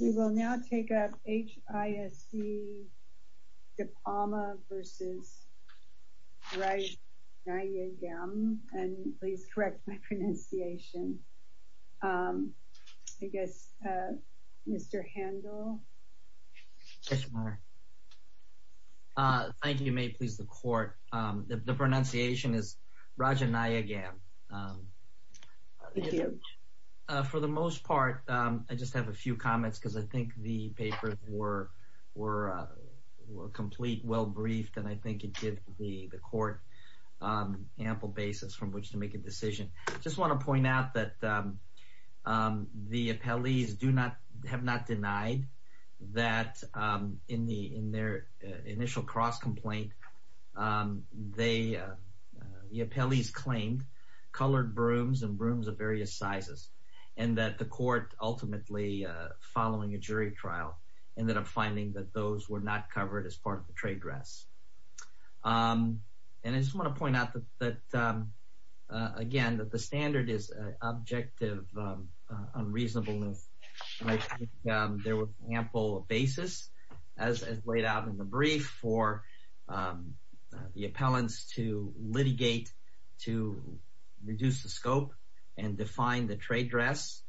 We will now take up H.I.S.C., Dipalma v. Rajanayagam, and please correct my pronunciation. I guess Mr. Handel? Yes, ma'am. Thank you. May it please the Court. The pronunciation is Rajanayagam. Thank you. For the most part, I just have a few comments because I think the papers were complete, well-briefed, and I think it gave the Court ample basis from which to make a decision. I just want to point out that the appellees claimed colored brooms and brooms of various sizes, and that the Court, ultimately, following a jury trial, ended up finding that those were not covered as part of the trade dress. And I just want to point out that, again, that the standard is objective unreasonableness. I think there was ample basis, as laid out in the brief, for the appellants to litigate, to reduce the scope and define the trade dress,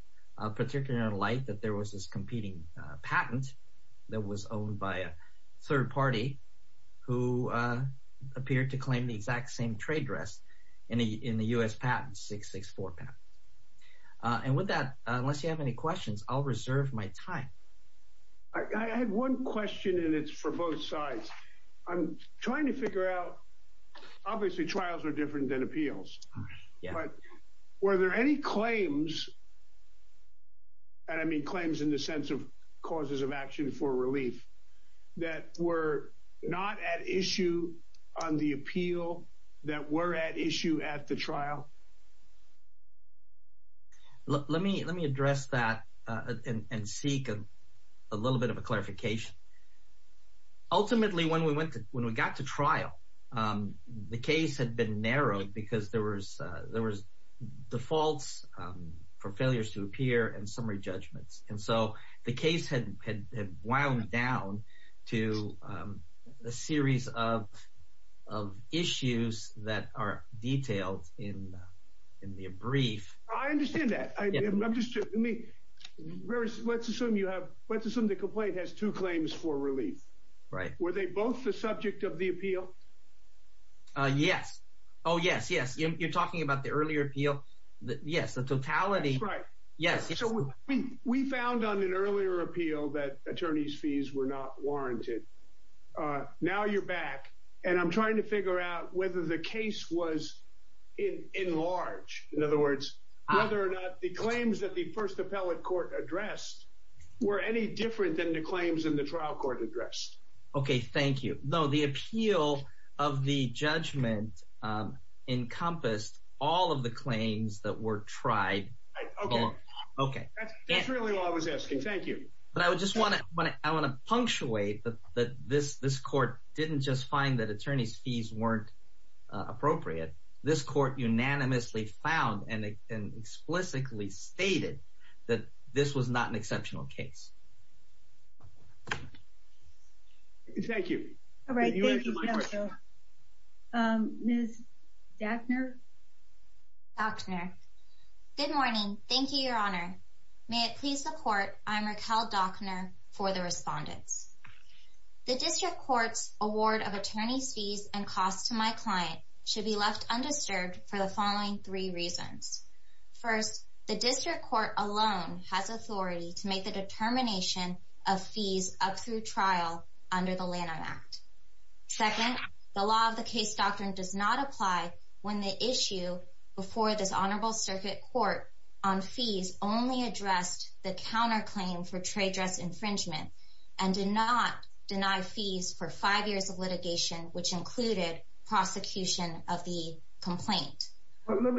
particularly in light that there was this competing patent that was owned by a third party who appeared to claim the exact same trade dress in the U.S. patent, 664 patent. And with that, unless you have any questions, I'll reserve my time. I had one question, and it's for both sides. I'm trying to figure out, obviously, trials are different than appeals, but were there any that were at issue at the trial? Let me address that and seek a little bit of a clarification. Ultimately, when we got to trial, the case had been narrowed because there were defaults for failures to appear and summary judgments. And so the case had wound down to a series of issues that are detailed in the brief. I understand that. Let's assume the complaint has two claims for relief. Were they both the subject of the appeal? Yes. Oh, yes, yes. You're talking about the earlier appeal. Yes, the totality. That's right. We found on an earlier appeal that attorneys' fees were not warranted. Now you're back, and I'm trying to figure out whether the case was in large. In other words, whether or not the claims that the first appellate court addressed were any different than the claims in the trial court addressed. Okay, thank you. No, the appeal of the judgment encompassed all of the claims that were tried. Okay. That's really all I was asking. Thank you. But I want to punctuate that this court didn't just find that attorneys' fees weren't appropriate. This court unanimously found and explicitly stated that this was not an exceptional case. Thank you. Can you answer my question? Ms. Dockner? Dockner. Good morning. Thank you, Your Honor. May it please the Court, I'm Raquel Dockner for the Respondents. The District Court's award of attorneys' fees and costs to my client should be left undisturbed for the following three reasons. First, the District Court alone has authority to make the determination of fees up through trial under the Lanham Act. Second, the law of the case doctrine does not apply when the issue before this Honorable Circuit Court on fees only addressed the counterclaim for trade dress infringement and did not deny fees for five years of litigation, which included prosecution of the complaint.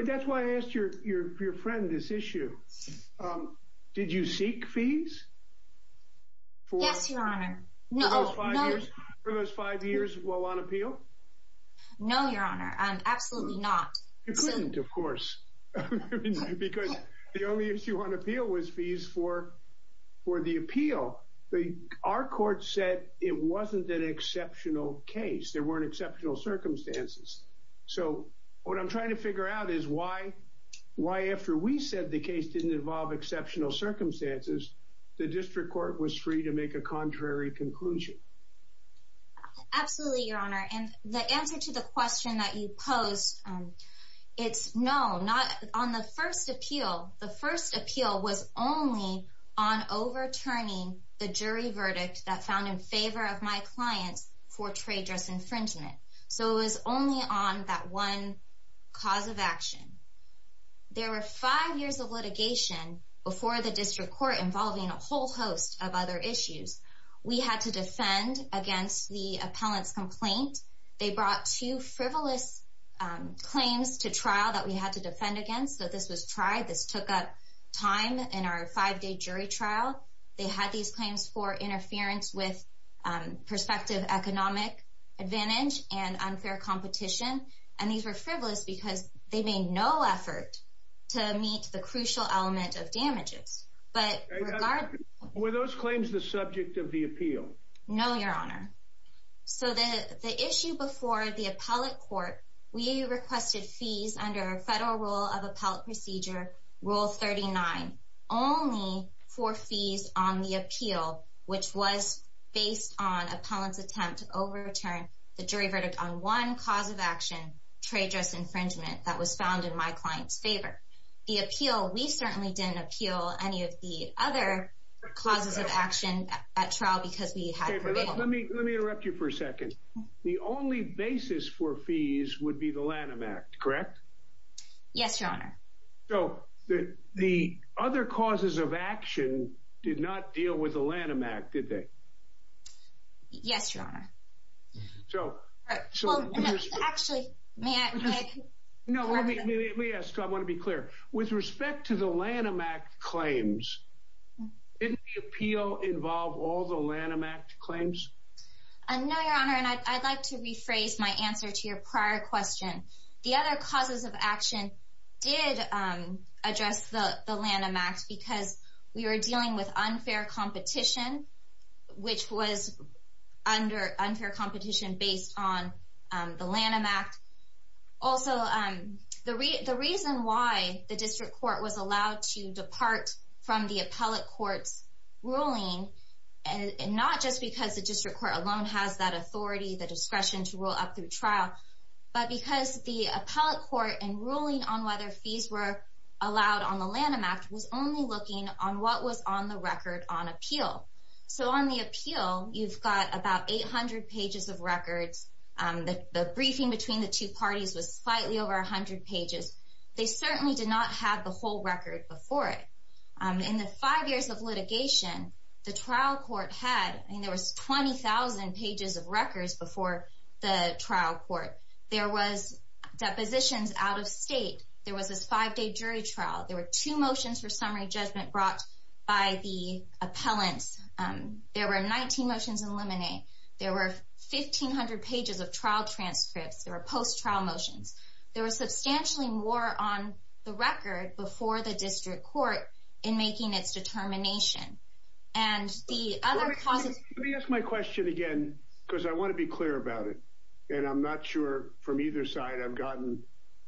That's why I asked your friend this issue. Did you seek fees? Yes, Your Honor. For those five years while on appeal? No, Your Honor. Absolutely not. You couldn't, of course, because the only issue on appeal was fees for the appeal. Our court said it wasn't an exceptional case. There weren't exceptional circumstances. So what I'm trying to figure out is why after we said the case didn't involve exceptional circumstances, the District Court was free to make a contrary conclusion. Absolutely, Your Honor. And the answer to the question that you posed, it's no. On the first appeal, the first appeal was only on overturning the jury verdict that found in favor of my clients for trade dress infringement. So it was only on that one cause of action. There were five years of litigation before the District Court involving a whole host of other issues. We had to defend against the appellant's complaint. They brought two frivolous claims to trial that we had to defend against. So this was tried. This took up time in our five-day jury trial. They had these claims for interference with prospective economic advantage and unfair competition. And these were frivolous because they made no effort to meet the crucial element of damages. Were those claims the subject of the appeal? No, Your Honor. So the issue before the appellate court, we requested fees under Federal Rule of Appellate Procedure, Rule 39, only for fees on the appeal, which was based on appellant's attempt to overturn the jury verdict on one cause of action, trade dress infringement, that was found in my client's favor. The appeal, we certainly didn't appeal any of the other causes of action at trial because we had prevailed. Let me interrupt you for a second. The only basis for fees would be the Lanham Act, correct? Yes, Your Honor. So the other causes of action did not deal with the Lanham Act, did they? Yes, Your Honor. Actually, may I? No, let me ask. I want to be clear. With respect to the Lanham Act claims, didn't the appeal involve all the Lanham Act claims? No, Your Honor, and I'd like to rephrase my answer to your prior question. The other causes of action did address the Lanham Act because we were dealing with unfair competition, which was unfair competition based on the Lanham Act. Also, the reason why the district court was allowed to depart from the appellate court's ruling, not just because the district court alone has that authority, the discretion to rule up through trial, but because the appellate court, in ruling on whether fees were allowed on the Lanham Act, was only looking on what was on the record on appeal. So on the appeal, you've got about 800 pages of records. The briefing between the two parties was slightly over 100 pages. They certainly did not have the whole record before it. In the five years of litigation, the trial court had, I mean, there was 20,000 pages of records before the trial court. There was depositions out of state. There was this five-day jury trial. There were two motions for summary judgment brought by the appellants. There were 19 motions in limine. There were 1,500 pages of trial transcripts. There were post-trial motions. There was substantially more on the record before the district court in making its determination. And the other causes— Let me ask my question again because I want to be clear about it, and I'm not sure from either side I've gotten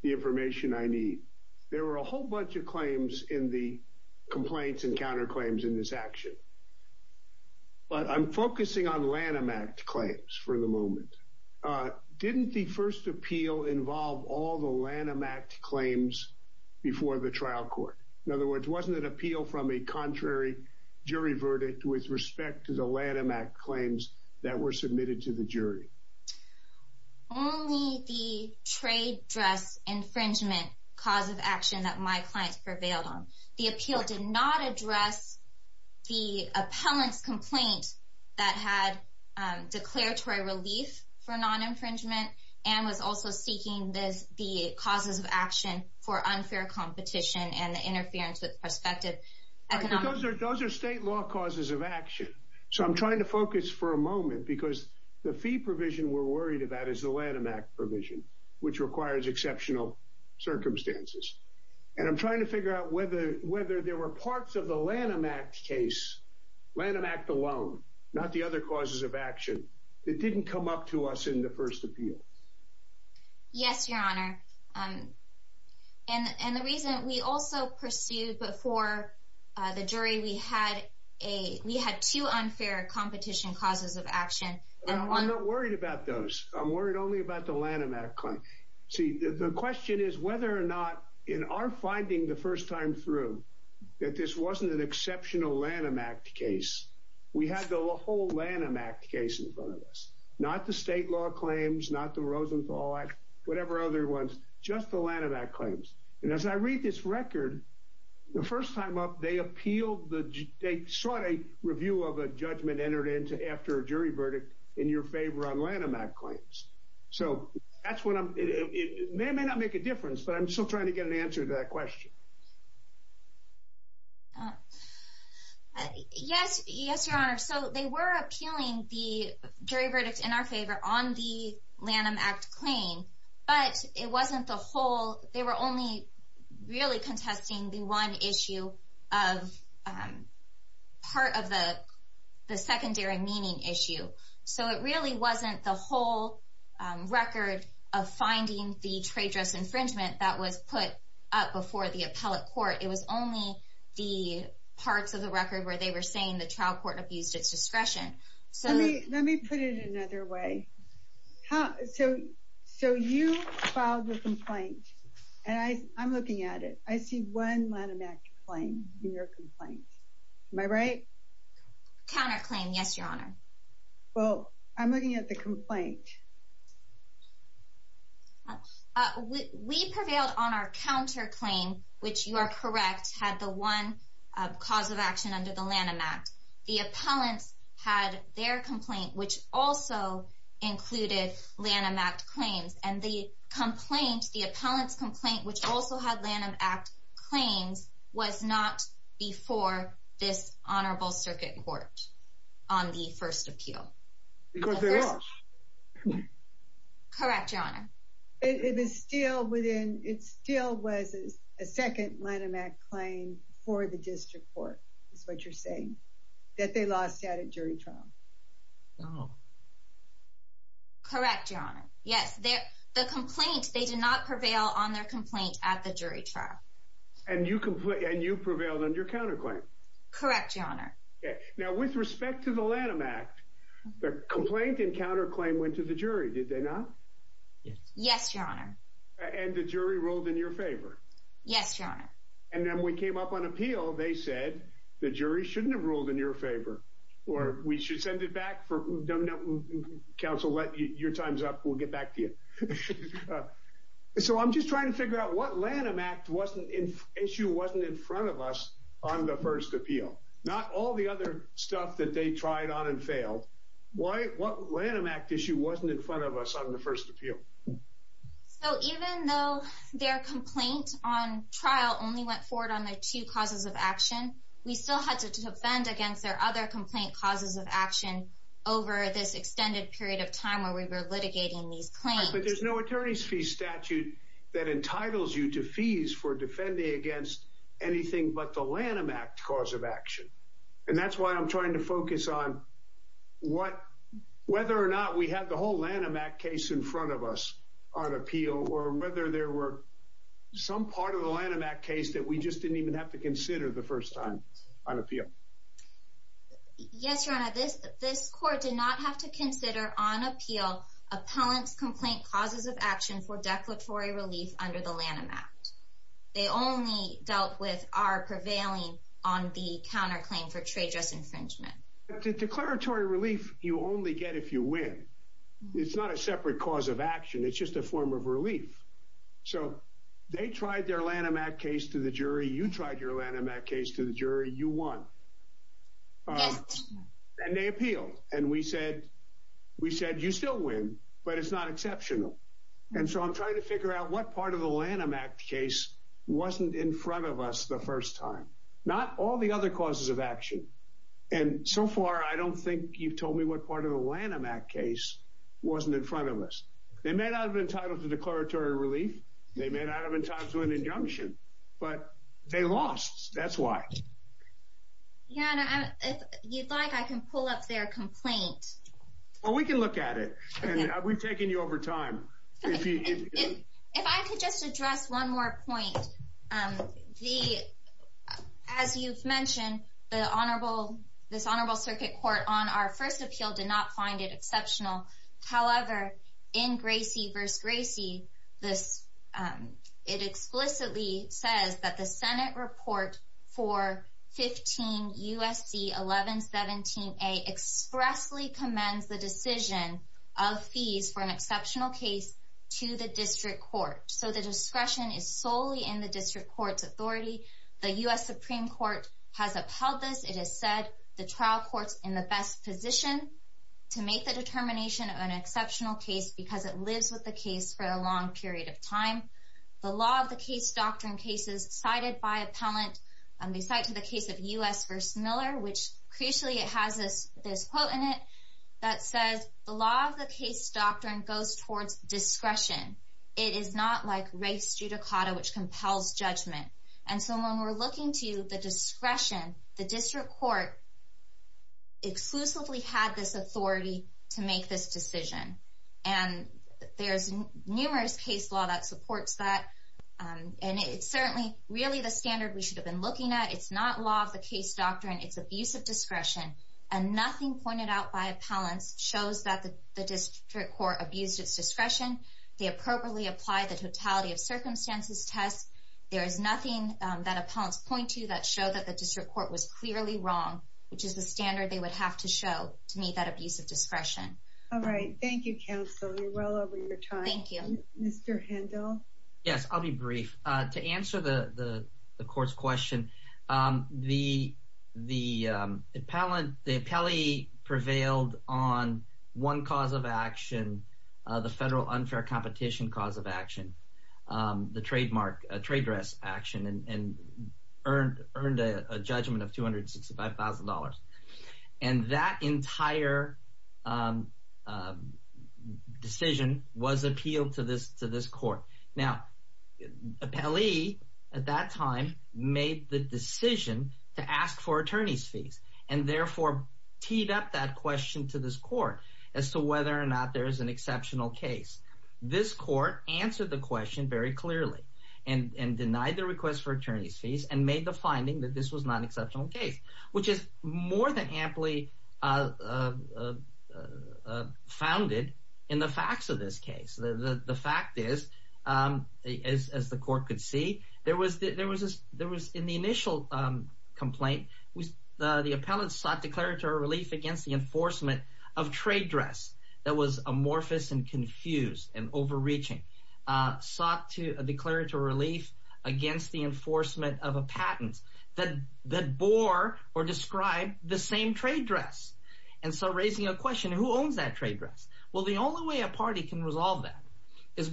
the information I need. There were a whole bunch of claims in the complaints and counterclaims in this action. But I'm focusing on Lanham Act claims for the moment. Didn't the first appeal involve all the Lanham Act claims before the trial court? In other words, wasn't it appeal from a contrary jury verdict with respect to the Lanham Act claims that were submitted to the jury? Only the trade dress infringement cause of action that my client prevailed on. The appeal did not address the appellant's complaint that had declaratory relief for non-infringement and was also seeking the causes of action for unfair competition and the interference with prospective economic— So I'm trying to focus for a moment because the fee provision we're worried about is the Lanham Act provision, which requires exceptional circumstances. And I'm trying to figure out whether there were parts of the Lanham Act case, Lanham Act alone, not the other causes of action, that didn't come up to us in the first appeal. Yes, Your Honor. And the reason we also pursued before the jury, we had two unfair competition causes of action. I'm not worried about those. I'm worried only about the Lanham Act claim. See, the question is whether or not, in our finding the first time through, that this wasn't an exceptional Lanham Act case. We had the whole Lanham Act case in front of us. Not the state law claims, not the Rosenthal Act, whatever other ones, just the Lanham Act claims. And as I read this record, the first time up, they appealed the—they sought a review of a judgment entered into after a jury verdict in your favor on Lanham Act claims. So that's what I'm—it may or may not make a difference, but I'm still trying to get an answer to that question. Yes, Your Honor. So they were appealing the jury verdict in our favor on the Lanham Act claim, but it wasn't the whole—they were only really contesting the one issue of part of the secondary meaning issue. So it really wasn't the whole record of finding the trade dress infringement that was put up before the appellate court. It was only the parts of the record where they were saying the trial court abused its discretion. Let me put it another way. So you filed the complaint, and I'm looking at it. I see one Lanham Act claim in your complaint. Am I right? Counterclaim, yes, Your Honor. Well, I'm looking at the complaint. We prevailed on our counterclaim, which you are correct, had the one cause of action under the Lanham Act. The appellants had their complaint, which also included Lanham Act claims. And the appellant's complaint, which also had Lanham Act claims, was not before this Honorable Circuit Court on the first appeal. Because they lost. Correct, Your Honor. It still was a second Lanham Act claim for the district court, is what you're saying, that they lost at a jury trial. Oh. Correct, Your Honor. Yes, the complaint, they did not prevail on their complaint at the jury trial. And you prevailed on your counterclaim. Correct, Your Honor. Now, with respect to the Lanham Act, the complaint and counterclaim went to the jury, did they not? Yes, Your Honor. And the jury ruled in your favor? Yes, Your Honor. And then when we came up on appeal, they said, the jury shouldn't have ruled in your favor. Or, we should send it back, counsel, your time's up, we'll get back to you. So I'm just trying to figure out what Lanham Act issue wasn't in front of us on the first appeal. Not all the other stuff that they tried on and failed. What Lanham Act issue wasn't in front of us on the first appeal? So even though their complaint on trial only went forward on their two causes of action, we still had to defend against their other complaint causes of action over this extended period of time where we were litigating these claims. But there's no attorney's fee statute that entitles you to fees for defending against anything but the Lanham Act cause of action. And that's why I'm trying to focus on whether or not we had the whole Lanham Act case in front of us on appeal, or whether there were some part of the Lanham Act case that we just didn't even have to consider the first time on appeal. Yes, Your Honor. This court did not have to consider on appeal appellant's complaint causes of action for declaratory relief under the Lanham Act. They only dealt with our prevailing on the counterclaim for trade dress infringement. The declaratory relief you only get if you win. It's not a separate cause of action. It's just a form of relief. So they tried their Lanham Act case to the jury. You tried your Lanham Act case to the jury. You won. Yes. And they appealed. And we said, you still win, but it's not exceptional. And so I'm trying to figure out what part of the Lanham Act case wasn't in front of us the first time. Not all the other causes of action. And so far, I don't think you've told me what part of the Lanham Act case wasn't in front of us. They may not have been entitled to declaratory relief. They may not have been entitled to an injunction. But they lost. That's why. Your Honor, if you'd like, I can pull up their complaint. Well, we can look at it. And we've taken you over time. If I could just address one more point. As you've mentioned, this Honorable Circuit Court on our first appeal did not find it exceptional. However, in Gracie v. Gracie, it explicitly says that the Senate report for 15 U.S.C. 1117A expressly commends the decision of fees for an exceptional case to the District Court. So the discretion is solely in the District Court's authority. The U.S. Supreme Court has upheld this. It has said the trial court's in the best position to make the determination of an exceptional case because it lives with the case for a long period of time. The law of the case doctrine case is cited by appellant. They cite to the case of U.S. v. Miller, which crucially it has this quote in it that says, The law of the case doctrine goes towards discretion. It is not like race judicata, which compels judgment. And so when we're looking to the discretion, the District Court exclusively had this authority to make this decision. And there's numerous case law that supports that. And it's certainly really the standard we should have been looking at. It's not law of the case doctrine. It's abuse of discretion. And nothing pointed out by appellants shows that the District Court abused its discretion. They appropriately applied the totality of circumstances test. There is nothing that appellants point to that showed that the District Court was clearly wrong, which is the standard they would have to show to meet that abuse of discretion. All right. Thank you, counsel. You're well over your time. Thank you. Mr. Handel? Yes, I'll be brief. To answer the court's question, the appellee prevailed on one cause of action, the federal unfair competition cause of action, the trademark trade dress action, and earned a judgment of $265,000. And that entire decision was appealed to this court. Now, appellee at that time made the decision to ask for attorney's fees and therefore teed up that question to this court as to whether or not there is an exceptional case. This court answered the question very clearly and denied the request for attorney's fees and made the finding that this was not an exceptional case, which is more than amply founded in the facts of this case. The fact is, as the court could see, in the initial complaint, the appellate sought declaratory relief against the enforcement of trade dress that was amorphous and confused and overreaching, sought a declaratory relief against the enforcement of a patent that bore or described the same trade dress, and so raising a question, who owns that trade dress? Well, the only way a party can resolve that is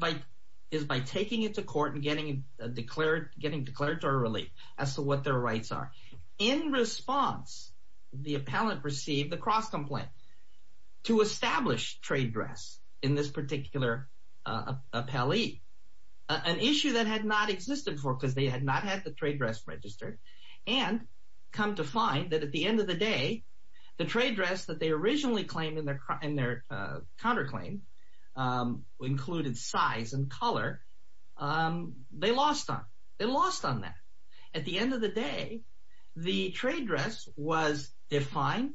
by taking it to court and getting declaratory relief as to what their rights are. In response, the appellate received a cross-complaint to establish trade dress in this particular appellee, an issue that had not existed before because they had not had the trade dress registered, and come to find that at the end of the day, the trade dress that they originally claimed in their counterclaim included size and color, they lost on that. At the end of the day, the trade dress was defined,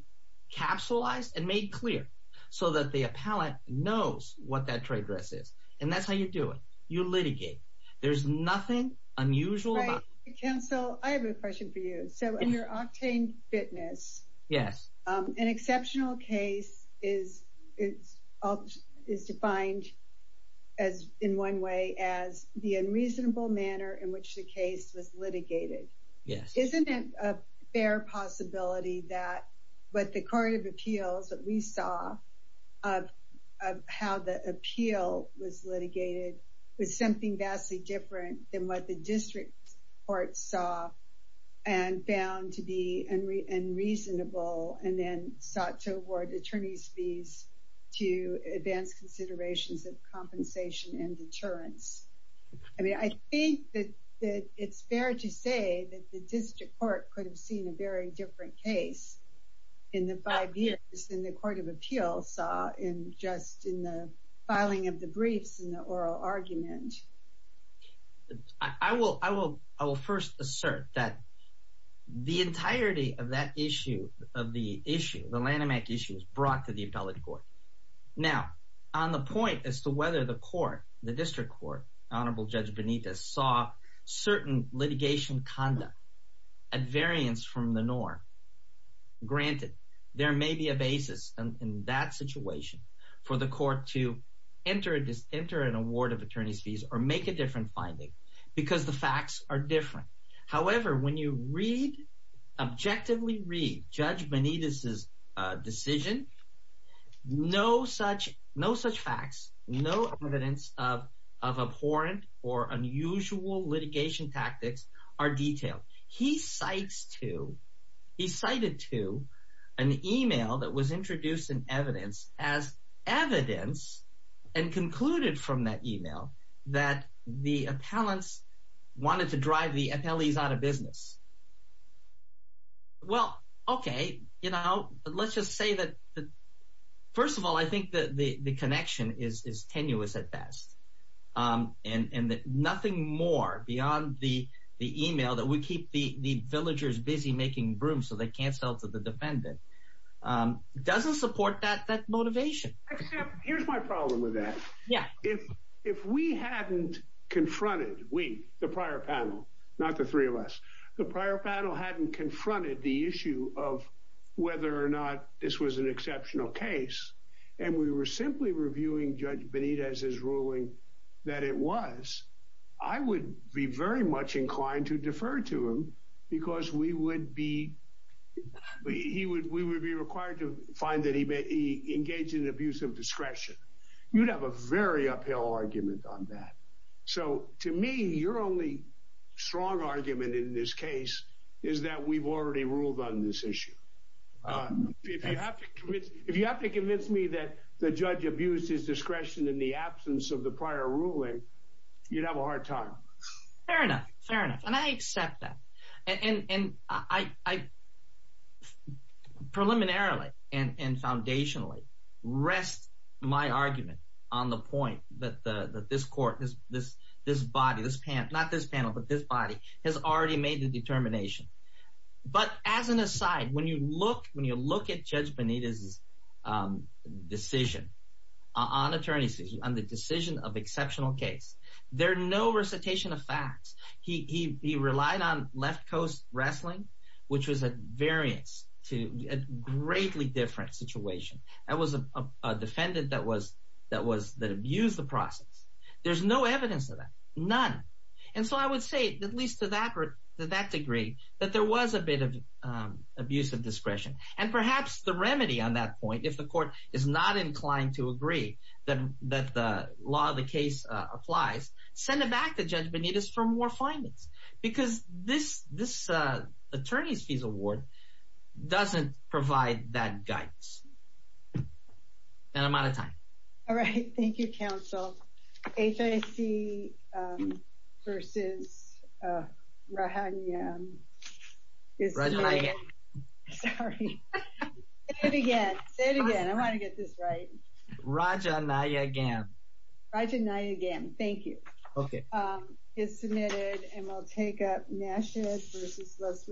capsulized, and made clear so that the appellate knows what that trade dress is. And that's how you do it. You litigate. There's nothing unusual about it. Counsel, I have a question for you. So under Octane Fitness, an exceptional case is defined in one way as the unreasonable manner in which the case was litigated. Isn't it a fair possibility that what the Court of Appeals, what we saw of how the appeal was litigated was something vastly different than what the district court saw and found to be unreasonable and then sought to award attorney's fees to advance considerations of compensation and deterrence? I mean, I think that it's fair to say that the district court could have seen a very different case in the five years than the Court of Appeals saw in just in the filing of the briefs and the oral argument. I will first assert that the entirety of that issue, of the issue, the Lanham Act issue, was brought to the appellate court. Now, on the point as to whether the court, the district court, Honorable Judge Benitez, saw certain litigation conduct at variance from the norm, granted, there may be a basis in that situation for the court to enter an award of attorney's fees or make a different finding because the facts are different. However, when you read, objectively read, Judge Benitez's decision, no such facts, no evidence of abhorrent or unusual litigation tactics are detailed. He cites to, he cited to an email that was introduced in evidence as evidence and concluded from that email that the appellants wanted to drive the appellees out of business. Well, okay, you know, let's just say that, first of all, I think that the connection is tenuous at best and that nothing more beyond the email that would keep the villagers busy making brooms so they can't sell to the defendant doesn't support that motivation. Here's my problem with that. If we hadn't confronted, we, the prior panel, not the three of us, the prior panel hadn't confronted the issue of whether or not this was an exceptional case and we were simply reviewing Judge Benitez's ruling that it was, I would be very much inclined to defer to him because we would be, we would be required to find that he engaged in abuse of discretion. You'd have a very uphill argument on that. So, to me, your only strong argument in this case is that we've already ruled on this issue. If you have to convince me that the judge abused his discretion in the absence of the prior ruling, you'd have a hard time. Fair enough, fair enough, and I accept that. And I, preliminarily and foundationally, rest my argument on the point that this court, this body, this panel, not this panel, but this body has already made the determination. But as an aside, when you look at Judge Benitez's decision on attorneys, on the decision of exceptional case, there are no recitation of facts. He relied on left coast wrestling, which was a variance to a greatly different situation. That was a defendant that was, that abused the process. There's no evidence of that, none. And so I would say, at least to that degree, that there was a bit of abuse of discretion. And perhaps the remedy on that point, if the court is not inclined to agree that the law of the case applies, send it back to Judge Benitez for more findings. Because this attorney's fees award doesn't provide that guidance. And I'm out of time. All right, thank you, counsel. HIC versus Rahan Yam. Rajanayagam. Sorry. Say it again, say it again. I want to get this right. Rajanayagam. Rajanayagam, thank you. Okay.